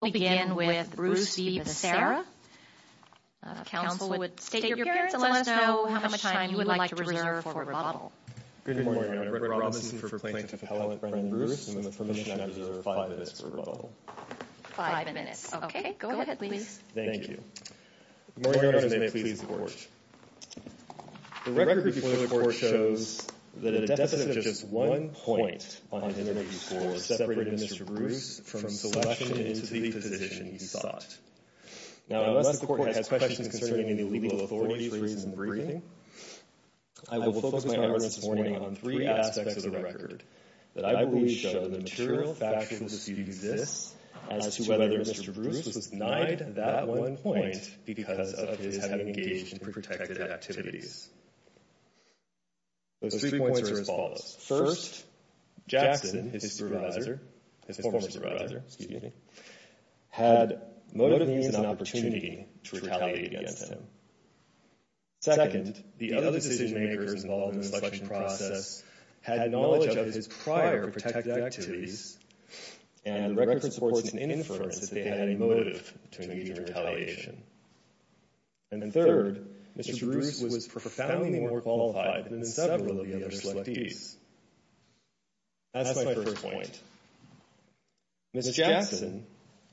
We'll begin with Bruce v. Becerra. Counsel would state your appearance and let us know how much time you would like to reserve for rebuttal. Good morning, I'm Brett Robinson for plaintiff appellate Brendan Bruce. I'm in the permission to reserve five minutes for rebuttal. Five minutes. OK, go ahead, please. Thank you. Good morning, Your Honors, and may it please the Court. The record before the Court shows that a deficit of just one point on 184 separated Mr. Bruce from selection into the position he sought. Now, unless the Court has questions concerning any legal authorities raised in the briefing, I will focus my evidence this morning on three aspects of the record that I believe show the material factuality that exists as to whether Mr. Bruce was denied that one point because of his having engaged in preprotected activities. Those three points are as follows. First, Jackson, his supervisor, his former supervisor, excuse me, had motive and opportunity to retaliate against him. Second, the other decision makers involved in the selection process had knowledge of his prior protected activities and the record supports an inference that they had a motive to engage in retaliation. And third, Mr. Bruce was profoundly more qualified than several of the other selectees. That's my first point. Ms. Jackson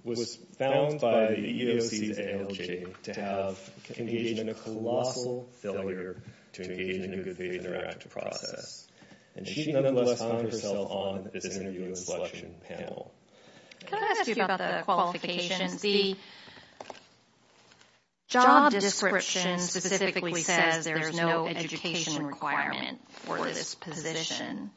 was found by the EEOC's ALJ to have engaged in a colossal failure to engage in a good faith interactive process, and she nonetheless found herself on this interview and selection panel. Can I ask you about the qualifications? The job description specifically says there's no education requirement for this position,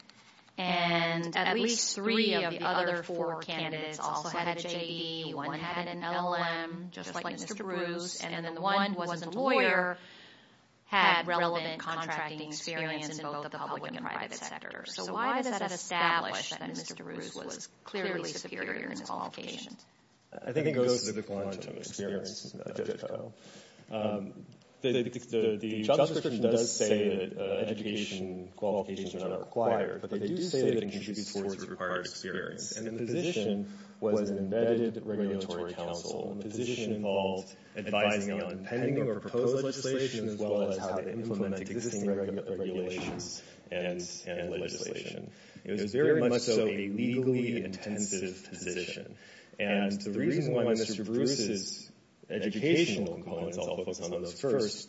and at least three of the other four candidates also had a J.D. One had an L.M., just like Mr. Bruce, and then the one who wasn't a lawyer had relevant contracting experience in both the public and private sectors. So why does that establish that Mr. Bruce was clearly superior in his qualifications? I think it goes to the quantum of experience, Jessica. The job description does say that education qualifications are not required, but they do say that the contributors were required experience, and the position was an embedded regulatory council. The position involved advising on pending or proposed legislation as well as how to implement existing regulations and legislation. It was very much so a legally intensive position, and the reason why Mr. Bruce's educational components, I'll focus on those first,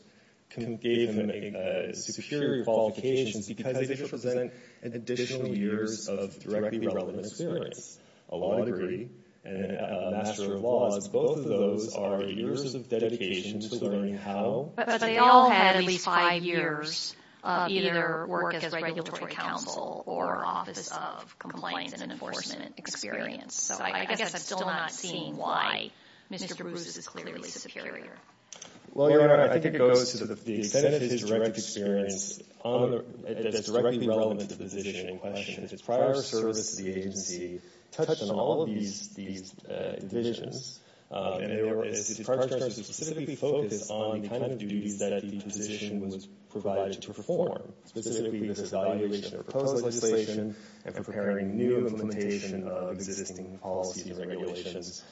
gave him superior qualifications because they represent additional years of directly relevant experience. A law degree and a Master of Laws, both of those are years of dedication to learning how But they all had at least five years of either work as regulatory council or Office of Compliance and Enforcement experience. So I guess I'm still not seeing why Mr. Bruce is clearly superior. Well, Your Honor, I think it goes to the extent of his direct experience that's directly relevant to the position in question. His prior service to the agency touched on all of these divisions, and his charge charge was specifically focused on the kind of duties that the position was provided to perform, specifically this evaluation of proposed legislation and preparing new implementation of existing policies and regulations,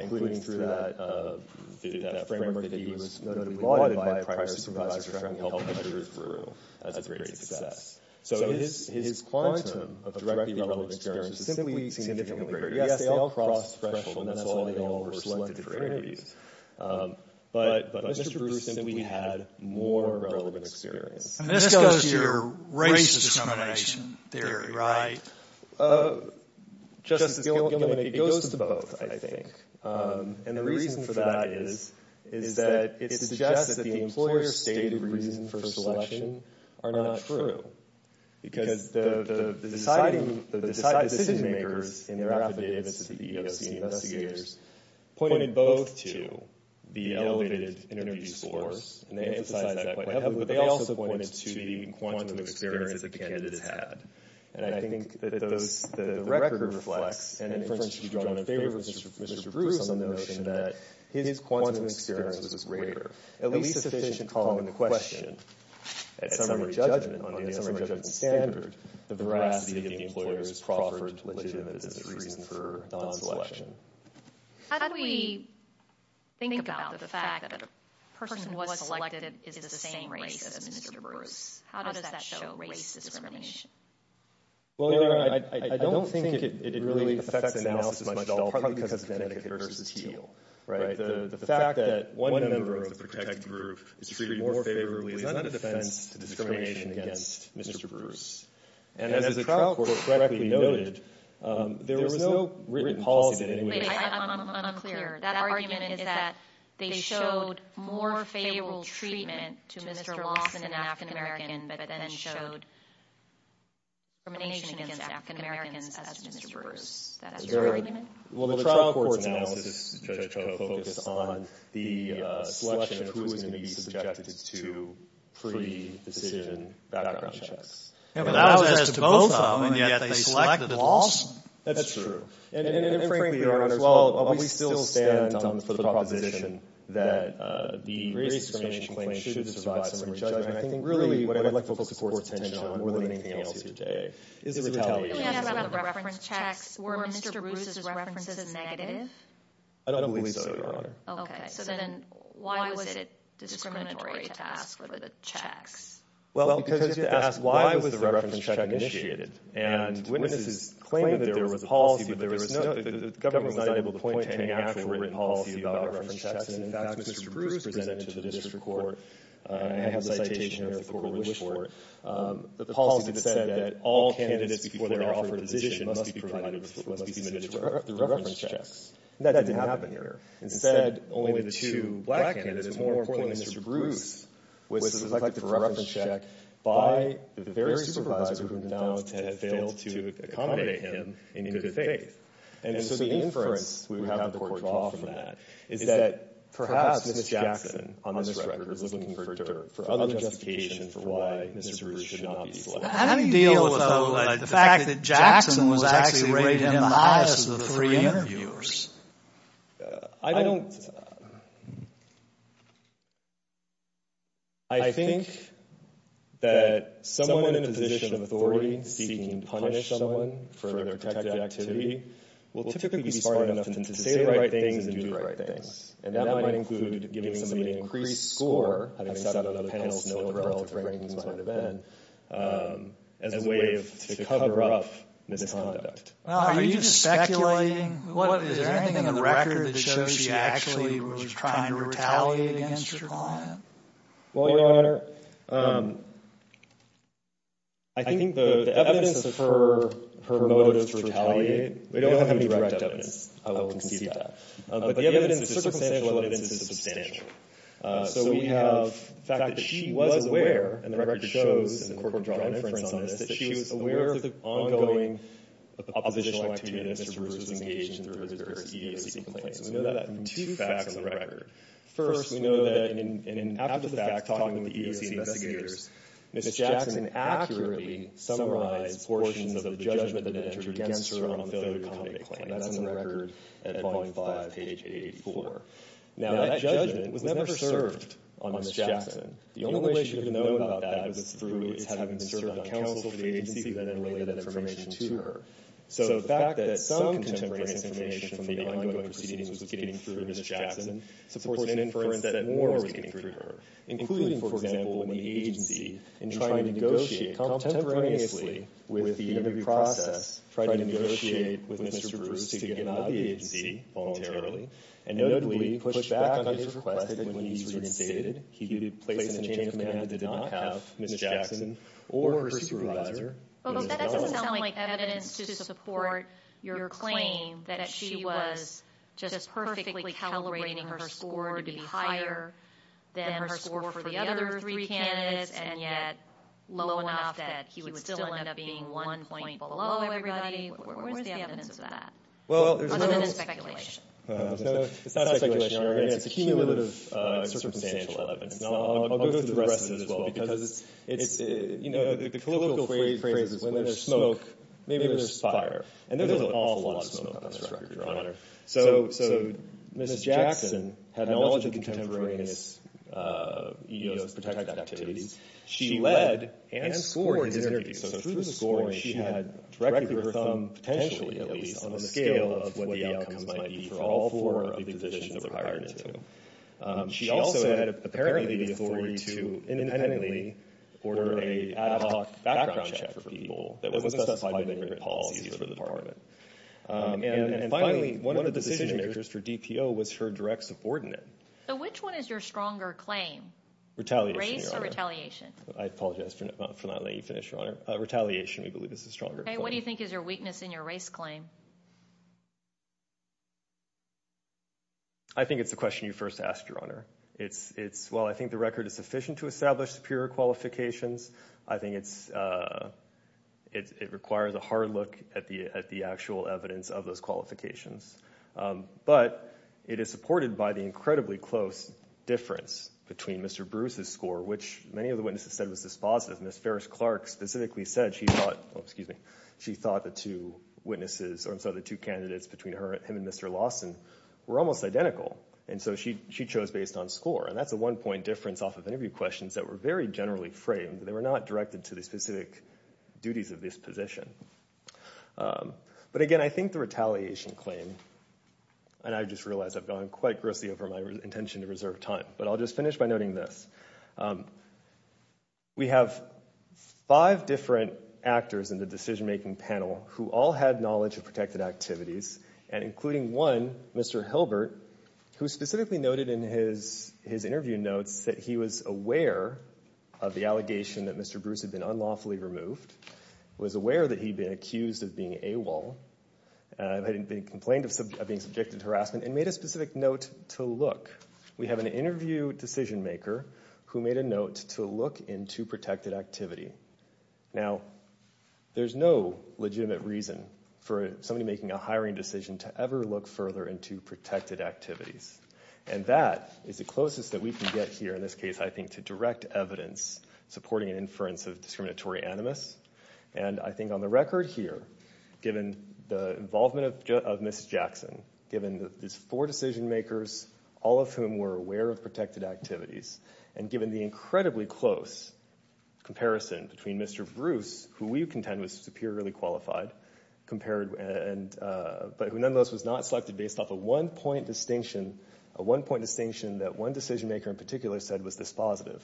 including through that framework that he was notably lauded by a prior supervisor tracking health measures bureau as a great success. So his quantum of directly relevant experience is simply significantly greater. Yes, they all crossed thresholds, and that's why they all were selected for interviews. But Mr. Bruce simply had more relevant experience. And this goes to your race dissemination theory, right? Justice Gilman, it goes to both, I think. And the reason for that is that it suggests that the employer stated reasons for selection are not true because the decision-makers in their affidavits to the EEOC investigators pointed both to the elevated interview scores, and they emphasized that quite heavily, but they also pointed to the quantum of experience that the candidate has had. And I think that the record reflects, and it should be drawn in favor of Mr. Bruce on the notion that his quantum of experience was greater, at least sufficient to call into question at summary judgment, on the assembly judgment standard, the veracity of the employer's proffered legitimacy as a reason for non-selection. How do we think about the fact that a person who was selected is of the same race as Mr. Bruce? How does that show race discrimination? Well, I don't think it really affects the analysis much at all, partly because of Connecticut versus Teal, right? The fact that one member of the protected group is treated more favorably is not a defense to discrimination against Mr. Bruce. And as the trial court correctly noted, there was no written policy... Wait, I'm clear. That argument is that they showed more favorable treatment to Mr. Lawson, an African-American, but then showed discrimination against African-Americans as to Mr. Bruce. Is that your argument? Well, the trial court's analysis, Judge Koh, was focused on the selection of who was going to be subjected to pre-decision background checks. But that was as to both of them, and yet they selected Lawson? That's true. And frankly, Your Honor, while we still stand for the proposition that the race discrimination claim should survive summary judgment, I think really what I'd like to focus the court's attention on more than anything else here today is the retaliation. Can we ask about the reference checks? Were Mr. Bruce's references negative? I don't believe so, Your Honor. Okay. So then why was it discriminatory to ask for the checks? Well, because you have to ask, why was the reference check initiated? And witnesses claimed that there was a policy, but the government was not able to point to any actual written policy about reference checks. And in fact, Mr. Bruce presented to the district court, and I have the citation here of the Court of Wish Court, the policy that said that all candidates before they're offered a decision must be submitted for reference checks. That didn't happen here. Instead, only the two black candidates, more importantly Mr. Bruce, was selected for reference check by the very supervisor who denounced and failed to accommodate him in good faith. And so the inference we have in the court draw from that is that perhaps Ms. Jackson, on this record, was looking for other justification for why Mr. Bruce should not be selected. How do you deal with the fact that Jackson was actually rated in the highest of the three interviewers? I don't... I think that someone in a position of authority seeking to punish someone for their protected activity will typically be smart enough to say the right things and do the right things. And that might include giving somebody an increased score having sat on other panels knowing what the relative rankings might have been as a way to cover up misconduct. Are you just speculating? Is there anything in the record that shows she actually was trying to retaliate against her client? Well, Your Honor, I think the evidence for her motive to retaliate, we don't have any direct evidence, I will concede that. But the evidence is circumstantial and the evidence is substantial. So we have the fact that she was aware, and the record shows, and the court will draw an inference on this, that she was aware of the ongoing oppositional activity that Mr. Bruce was engaged in through his various EEOC complaints. We know that from two facts on the record. First, we know that after the fact, talking with the EEOC investigators, Ms. Jackson accurately summarized portions of the judgment that entered against her on the failure to accommodate claim. That's on the record at Volume 5, page 884. Now, that judgment was never served on Ms. Jackson. The only way she could have known about that was through having served on counsel for the agency that then relayed that information to her. So the fact that some contemporaneous information from the ongoing proceedings was getting through to Ms. Jackson supports an inference that more was getting through to her. Including, for example, in the agency, in trying to negotiate contemporaneously with the interview process, trying to negotiate with Mr. Bruce to get him out of the agency voluntarily, and notably, pushed back on his request when he's resignated, he'd place an adjacent candidate that did not have Ms. Jackson or her supervisor in Ms. Jackson's office. But that doesn't sound like evidence to support your claim that she was just perfectly calibrating her score to be higher than her score for the other three candidates and yet low enough that he would still end up being one point below everybody. Where's the evidence of that? Other than speculation. It's not speculation, Your Honor. It's a cumulative and circumstantial evidence. And I'll go through the rest of it as well because it's, you know, the political phrase is when there's smoke, maybe there's fire. And there's an awful lot of smoke on this record, Your Honor. So Ms. Jackson had knowledge of contemporaneous EEOs, protected activities. She led and scored his interview. So through the scoring, she had directed her thumb, potentially at least, on the scale of what the outcomes might be for all four of the positions that were hired into. She also had apparently the authority to independently order an ad hoc background check for people that wasn't specified in the policies for the department. And finally, one of the decision makers for DPO was her direct subordinate. So which one is your stronger claim? Retaliation, Your Honor. Race or retaliation? I apologize for not letting you finish, Your Honor. Retaliation, we believe is the stronger claim. Okay, what do you think is your weakness in your race claim? I think it's the question you first asked, Your Honor. It's, well, I think the record is sufficient to establish superior qualifications. I think it's, it requires a hard look at the actual evidence of those qualifications. But it is supported by the incredibly close difference between Mr. Bruce's score, which many of the witnesses said was dispositive. Ms. Ferris-Clark specifically said she thought, oh, excuse me, she thought the two witnesses, or I'm sorry, the two candidates between him and Mr. Lawson were almost identical. And so she chose based on score. And that's the one point difference off of interview questions that were very generally framed. They were not directed to the specific duties of this position. But again, I think the retaliation claim, and I just realized I've gone quite grossly over my intention to reserve time, but I'll just finish by noting this. We have five different actors in the decision-making panel who all had knowledge of protected activities, and including one, Mr. Hilbert, who specifically noted in his interview notes that he was aware of the allegation that Mr. Bruce had been unlawfully removed, was aware that he'd been accused of being AWOL, had been complained of being subjected to harassment, and made a specific note to look. We have an interview decision-maker who made a note to look into protected activity. Now, there's no legitimate reason for somebody making a hiring decision to ever look further into protected activities. And that is the closest that we can get here, in this case, I think, to direct evidence supporting an inference of discriminatory animus. And I think on the record here, given the involvement of Ms. Jackson, given these four decision-makers, all of whom were aware of protected activities, and given the incredibly close comparison between Mr. Bruce, who we contend was superiorly qualified, but who nonetheless was not selected based off a one-point distinction that one decision-maker in particular said was this positive.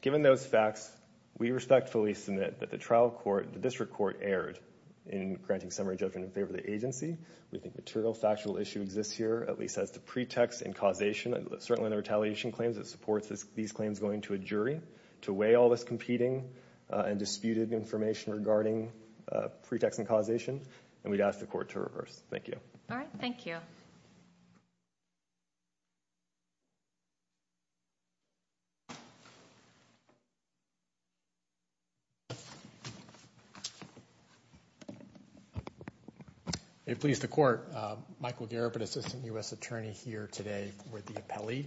Given those facts, we respectfully submit that the trial court, the district court, erred in granting summary judgment in favor of the agency. We think material, factual issue exists here, at least as the pretext and causation, certainly in the retaliation claims, it supports these claims going to a jury to weigh all this competing and disputed information regarding pretext and causation, and we'd ask the court to reverse. Thank you. All right, thank you. It please the court, Michael Garib, an assistant U.S. attorney here today with the appellee.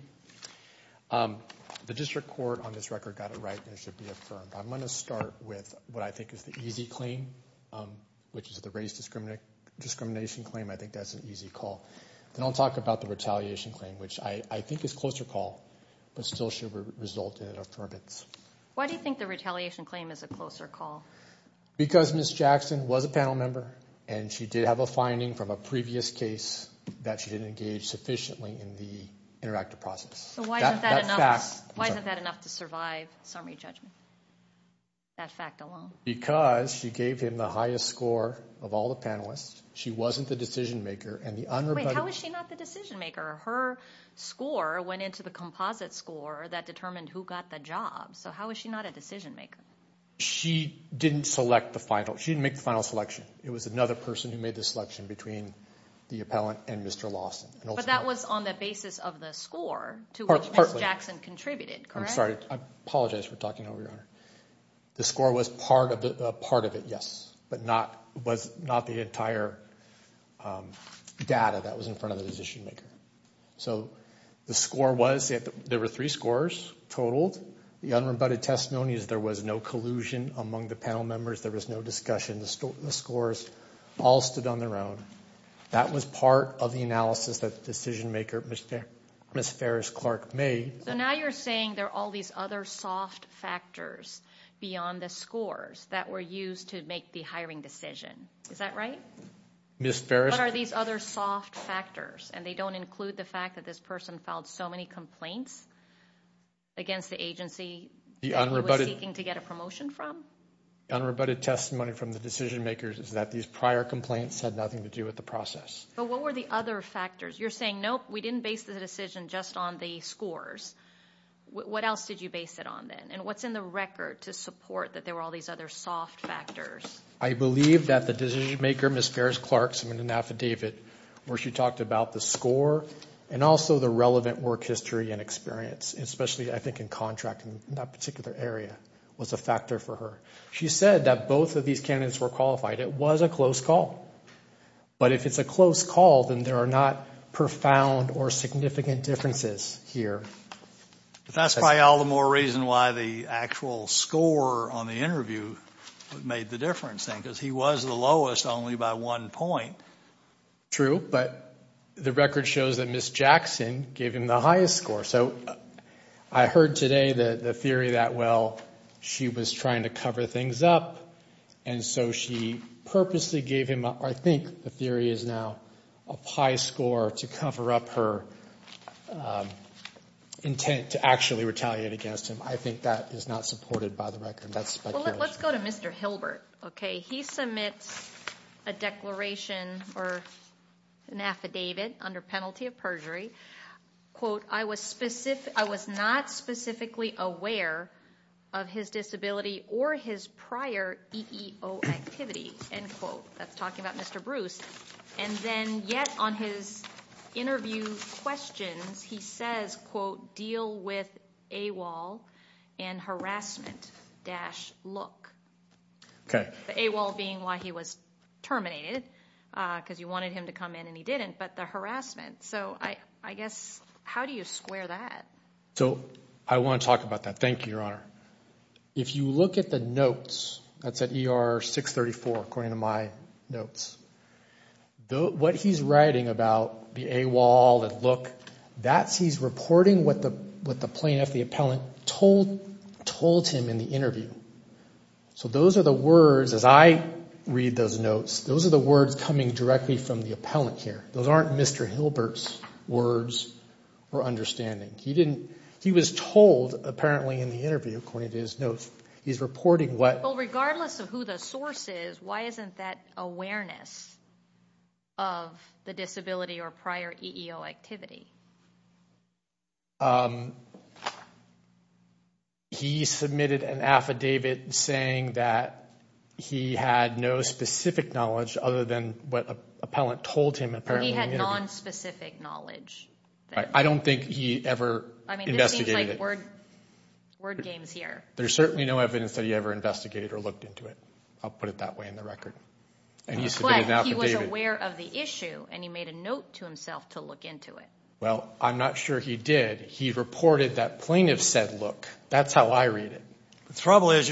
The district court on this record got it right and it should be affirmed. I'm going to start with what I think is the easy claim, which is the race discrimination claim. I think that's an easy call. Then I'll talk about the retaliation claim, which I think is a closer call, but still should result in an affirmance. Why do you think the retaliation claim is a closer call? Because Ms. Jackson was a panel member, and she did have a finding from a previous case that she didn't engage sufficiently in the interactive process. Why isn't that enough to survive summary judgment? That fact alone? Because she gave him the highest score of all the panelists, she wasn't the decision maker, and the unrebuttable... Wait, how is she not the decision maker? Her score went into the composite score that determined who got the job. So how is she not a decision maker? She didn't make the final selection. It was another person who made the selection between the appellant and Mr. Lawson. But that was on the basis of the score to which Ms. Jackson contributed, correct? I'm sorry. I apologize for talking over your honor. The score was part of it, yes, but not the entire data that was in front of the decision maker. So the score was... There were three scores totaled. The unrebutted testimony is there was no collusion among the panel members. There was no discussion. The scores all stood on their own. That was part of the analysis that the decision maker, Ms. Ferris-Clark, made. So now you're saying there are all these other soft factors beyond the scores that were used to make the hiring decision. Is that right? Ms. Ferris... What are these other soft factors? And they don't include the fact that this person filed so many complaints against the agency that he was seeking to get a promotion from? The unrebutted testimony from the decision makers is that these prior complaints had nothing to do with the process. But what were the other factors? You're saying, we didn't base the decision just on the scores. What else did you base it on then? And what's in the record to support that there were all these other soft factors? I believe that the decision maker, Ms. Ferris-Clark, submitted an affidavit where she talked about the score and also the relevant work history and experience, especially, I think, in contracting in that particular area was a factor for her. She said that both of these candidates were qualified. It was a close call. But if it's a close call, then there are not profound or significant differences here. That's probably all the more reason why the actual score on the interview made the difference because he was the lowest only by one point. True, but the record shows that Ms. Jackson gave him the highest score. So, I heard today the theory that, she was trying to cover things up and so she purposely gave him, I think the theory is now a high score to cover up her intent to actually retaliate against him. I think that is not supported by the record. That's speculation. Let's go to Mr. Hilbert. Okay, he submits a declaration or an affidavit under penalty of perjury quote, I was specific I was not specifically aware of his disability or his prior EEO activity end quote. That's talking about Mr. Bruce and then yet on his interview questions he says quote, deal with AWOL and harassment dash look. Okay. AWOL being why he was terminated because you wanted him to come in and he didn't but the harassment so, I guess how do you square that? So, I want to talk about that. Thank you, Your Honor. If you look at the that's at ER 634 according to my notes though what he's writing about the AWOL and look that's he's reporting what the plaintiff the appellant told him in the interview. So, those are the words as I read those notes those are the words coming directly from the appellant here. Those aren't Mr. Hilbert's words or understanding. He didn't he was told apparently in the interview according to his notes he's reporting what Regardless of who the source is why isn't that awareness of the disability or prior EEO activity? He submitted an affidavit saying that he had no specific knowledge other than what the appellant told him apparently in the interview. He had non-specific knowledge. I don't think he ever investigated it. There's certainly no evidence that he ever investigated or looked into it. I'll put it that way in the record. But he was aware of the issue and he made a note to himself to look into it. Well, I'm not sure he did. He reported that plaintiff said look that's how I read it. The trouble is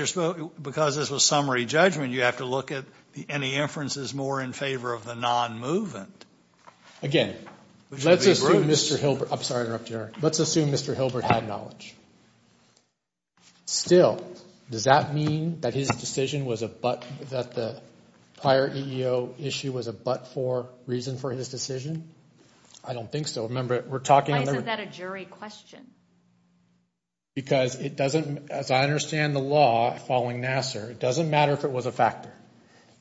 because this was summary judgment you have to look at any inferences more in favor of the non-movement. Again, let's assume Mr. Hilbert had knowledge. Still, does that mean that his decision was a but for reason for his decision? I don't think so. Why is that a jury question? Because it doesn't as I understand the law following Nassar it doesn't matter if it was a factor.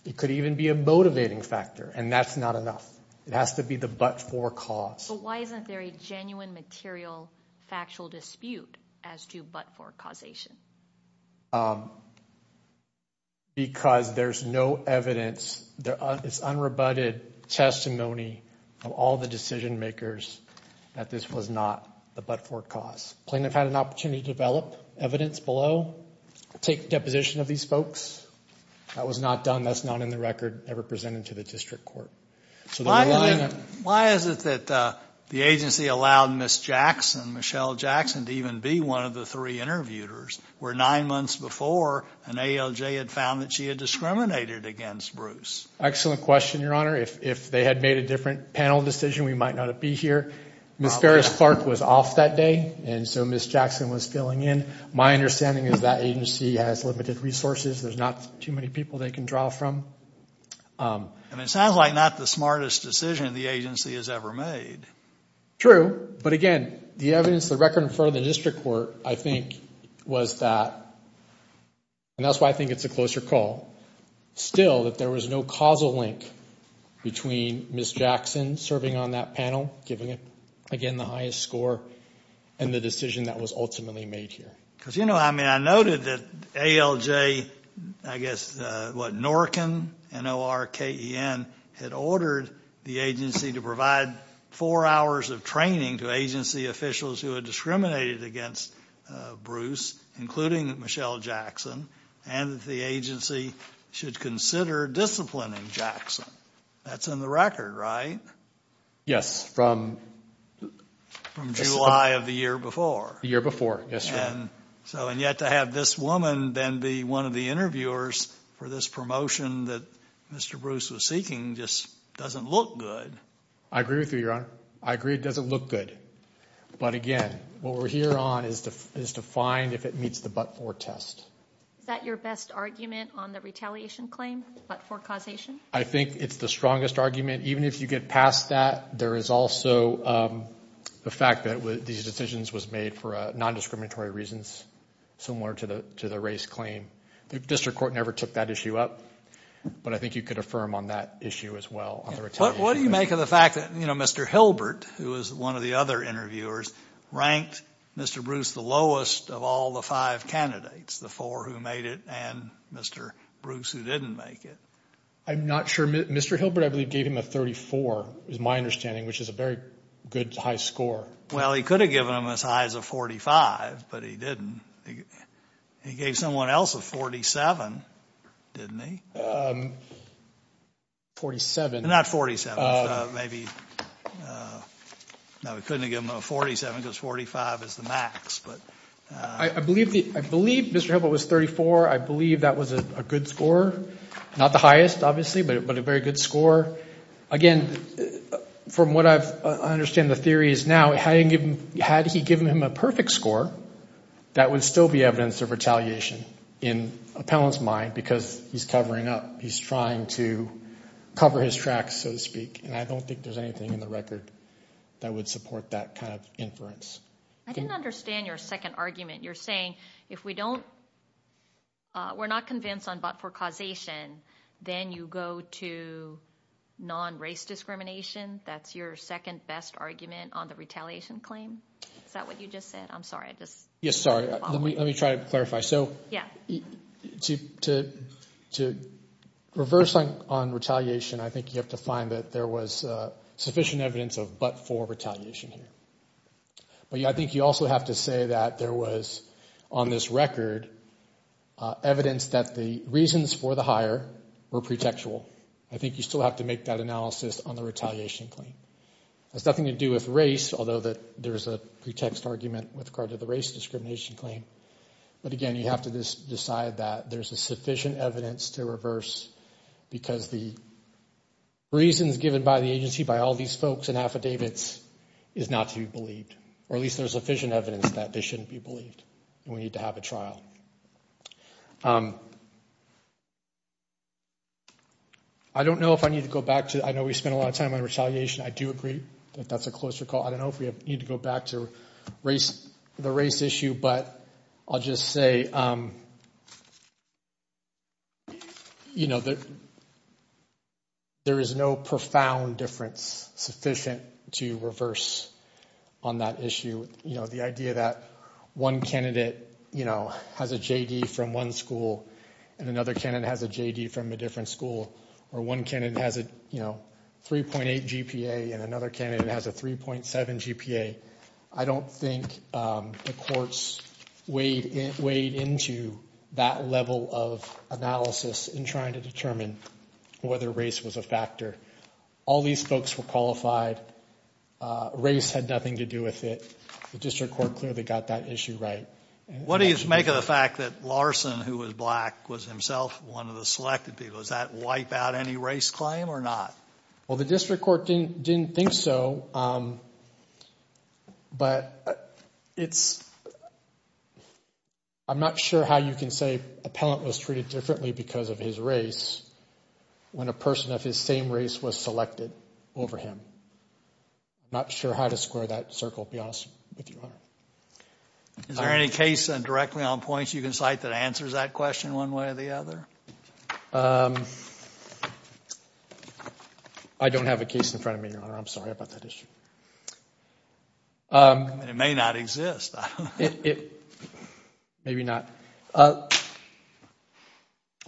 It could even be a motivating factor and that's not enough. It has to be the but for cause. But why isn't there a material factual dispute as to but for causation? Because there's no opportunity to develop evidence below take deposition of these folks. That was not done. That's not in the record ever presented to the district court. Why is it that the agency allowed Ms. Jackson to even be one of the three interviewers where nine months before an ALJ had found that she had discriminated against Bruce? Excellent question Your Honor. If they had made a different panel decision we might not have been here. Ms. Farris Clark was off that day and so Ms. Jackson served on that panel giving the highest score and the decision that was ultimately made here. I noted that ALJ had ordered the agency to provide four hours of training to agency officials who had discriminated against Bruce including Michelle Jackson and that the agency should consider disciplining Jackson. That's in the record, right? from July of the year before. before, yes, Your Honor. And yet to have this woman then be one of the interviewers for this promotion that Mr. Bruce was asked to is a but-for test. Is that your best argument on the retaliation claim, but-for causation? I think it's the argument. Even if you get past that, there is also the fact that these decisions were made for nondiscriminatory reasons similar to the race claim. The district court never took that issue up, but I think you could affirm on that issue as well. What do you make of the fact that Mr. Hilbert, who was one of the other interviewers, ranked Mr. Bruce the lowest of all the five interviewers. He gave someone else a 47, didn't he? Not 47. We couldn't give him a 47 because 45 is the max. I believe Mr. Hilbert was 34. I believe that was a good score. Not the highest, obviously, but a very good score. Again, from what I understand the theory is now, had he given him a perfect score, that would still be evidence of retaliation in appellant's mind because he's trying to cover his tracks, so to I don't think there's anything in the that would be non-race discrimination. That's your second best argument on the retaliation claim? Is that what you just said? I'm sorry. Let me try to To reverse on retaliation I think you have to find sufficient evidence of not for retaliation here. But I think you also have to say that there was on this record evidence that the reasons for the hire were pretextual. I think you still have to make that analysis on the retaliation claim. It has nothing to do with race discrimination. It's not to be We need to have a trial. I don't know if I need to go back to the race issue, but I'll just say there is no profound difference sufficient to reverse on that issue. The idea that one candidate has a J.D. from one school and another candidate has a J.D. from a different school or one candidate has a 3.8 GPA and another candidate has a 3.7 GPA. I don't think the courts weighed into that level of in trying to whether race was a All these folks were qualified. had nothing to do with it. The court clearly got that issue right. What do you make of the fact that who was black was himself one of the selected people. Does that wipe out any race claim or not? The district court didn't think so. I'm not sure how you can say appellant was differently because of his race when a person of his same race was selected over him. I'm not sure how to that circle. Is there any case you can cite that answers that question one way or the other? I don't have a case in front of me. I'm sorry about that issue. It may not exist. Maybe not.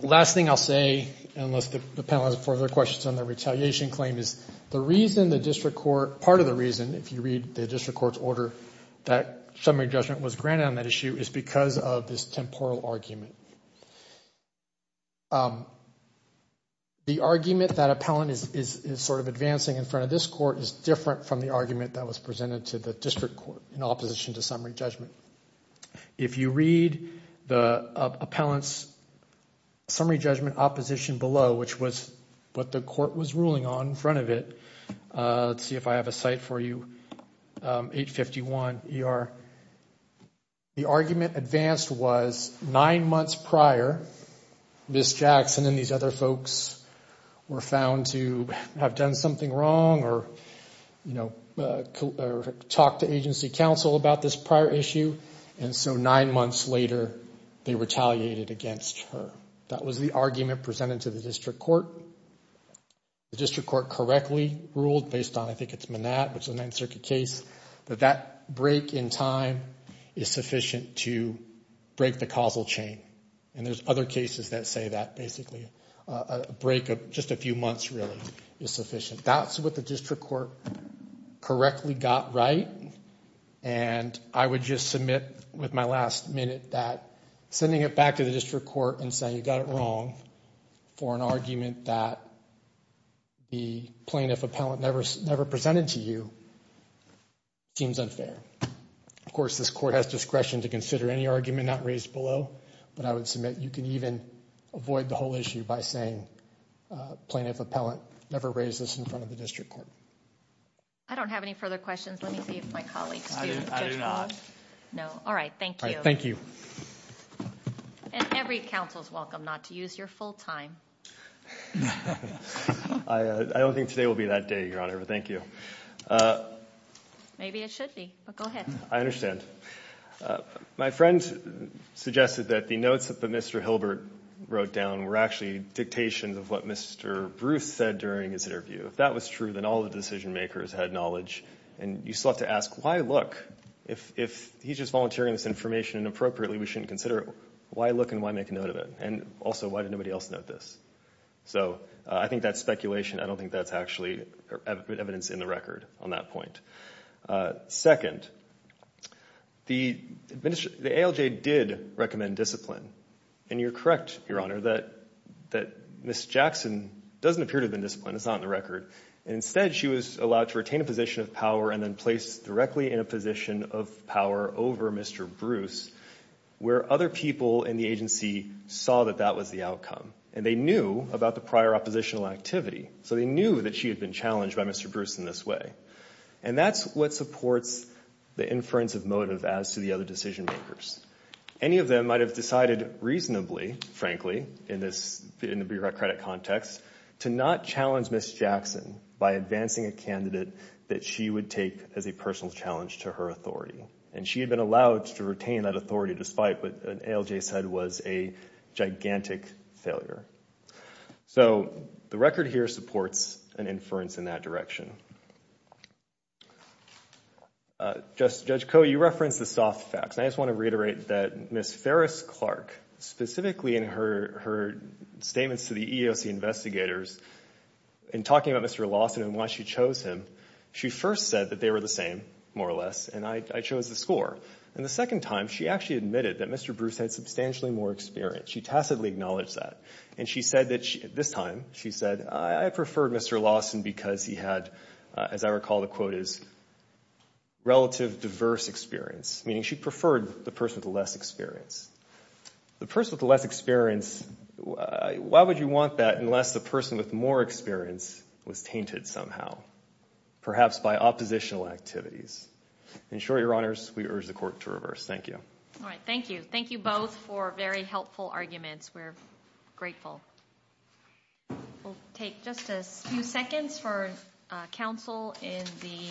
last thing I'll say is the reason the court was granted is because of this temporal argument. The argument that is advancing is different from the district court. If you read the appellant's summary judgment opposition below, what the court was ruling on in front of it, let's see if I have a site for you, 851 ER. The advanced was nine months prior Ms. Jackson and these other folks were found to have done something wrong or talked to counsel about this prior issue and so nine months later they retaliated against her. The district court correctly ruled that break in time is sufficient to break the causal chain. There are other cases that say that basically a break of just a few months is sufficient. That's what the district court correctly got right and I would just submit with my last minute that sending it back to the district court and saying you got it wrong for an argument that the plaintiff appellant never presented to you seems unfair. Of course this court has discretion to any argument not below but I would submit you can even avoid the whole issue by saying plaintiff appellant never raised this in front of the district court. I don't have any further questions. Let me see if my colleagues do. not. No. All right. Thank you. And every counsel is welcome not to use your full time. I don't think today will be that day, Thank you. Maybe it should be. Go ahead. I understand. My friend suggested that the notes that Mr. Hilbert wrote down were actually dictations of what Mr. Bruce said during his interview. If that was true then all of the decision makers had knowledge and you still have to ask why look if he's just volunteering this information and appropriately we shouldn't consider it. Why look and why make a note of it? And also why did nobody else note this? So I think that's speculation. I don't think that's actually evidence in the record on that but instead she was allowed to retain a position of power and then placed directly in a position of power over Mr. Bruce where other people in the agency saw that that was the outcome and they knew about the prior oppositional activity so they knew that she had been by Mr. Bruce to not challenge Ms. Jackson by advancing a candidate that she would take as a personal challenge to her authority and she had been allowed to retain that despite what ALJ said was a gigantic failure. So the record here supports an inference in that direction. Judge Coe, you referenced the soft facts. I just want to that Ms. Ferris-Clark specifically in her statements to the EEOC investigators in talking about Mr. Lawson and why she chose him she first said that they were the same she said I preferred Mr. Lawson because he had as I recall the quote is relative diverse experience meaning she preferred the person with less experience the person with less experience why would you want that unless the person with more experience was tainted somehow perhaps by oppositional activities in short we'll take just a few seconds for counsel in the to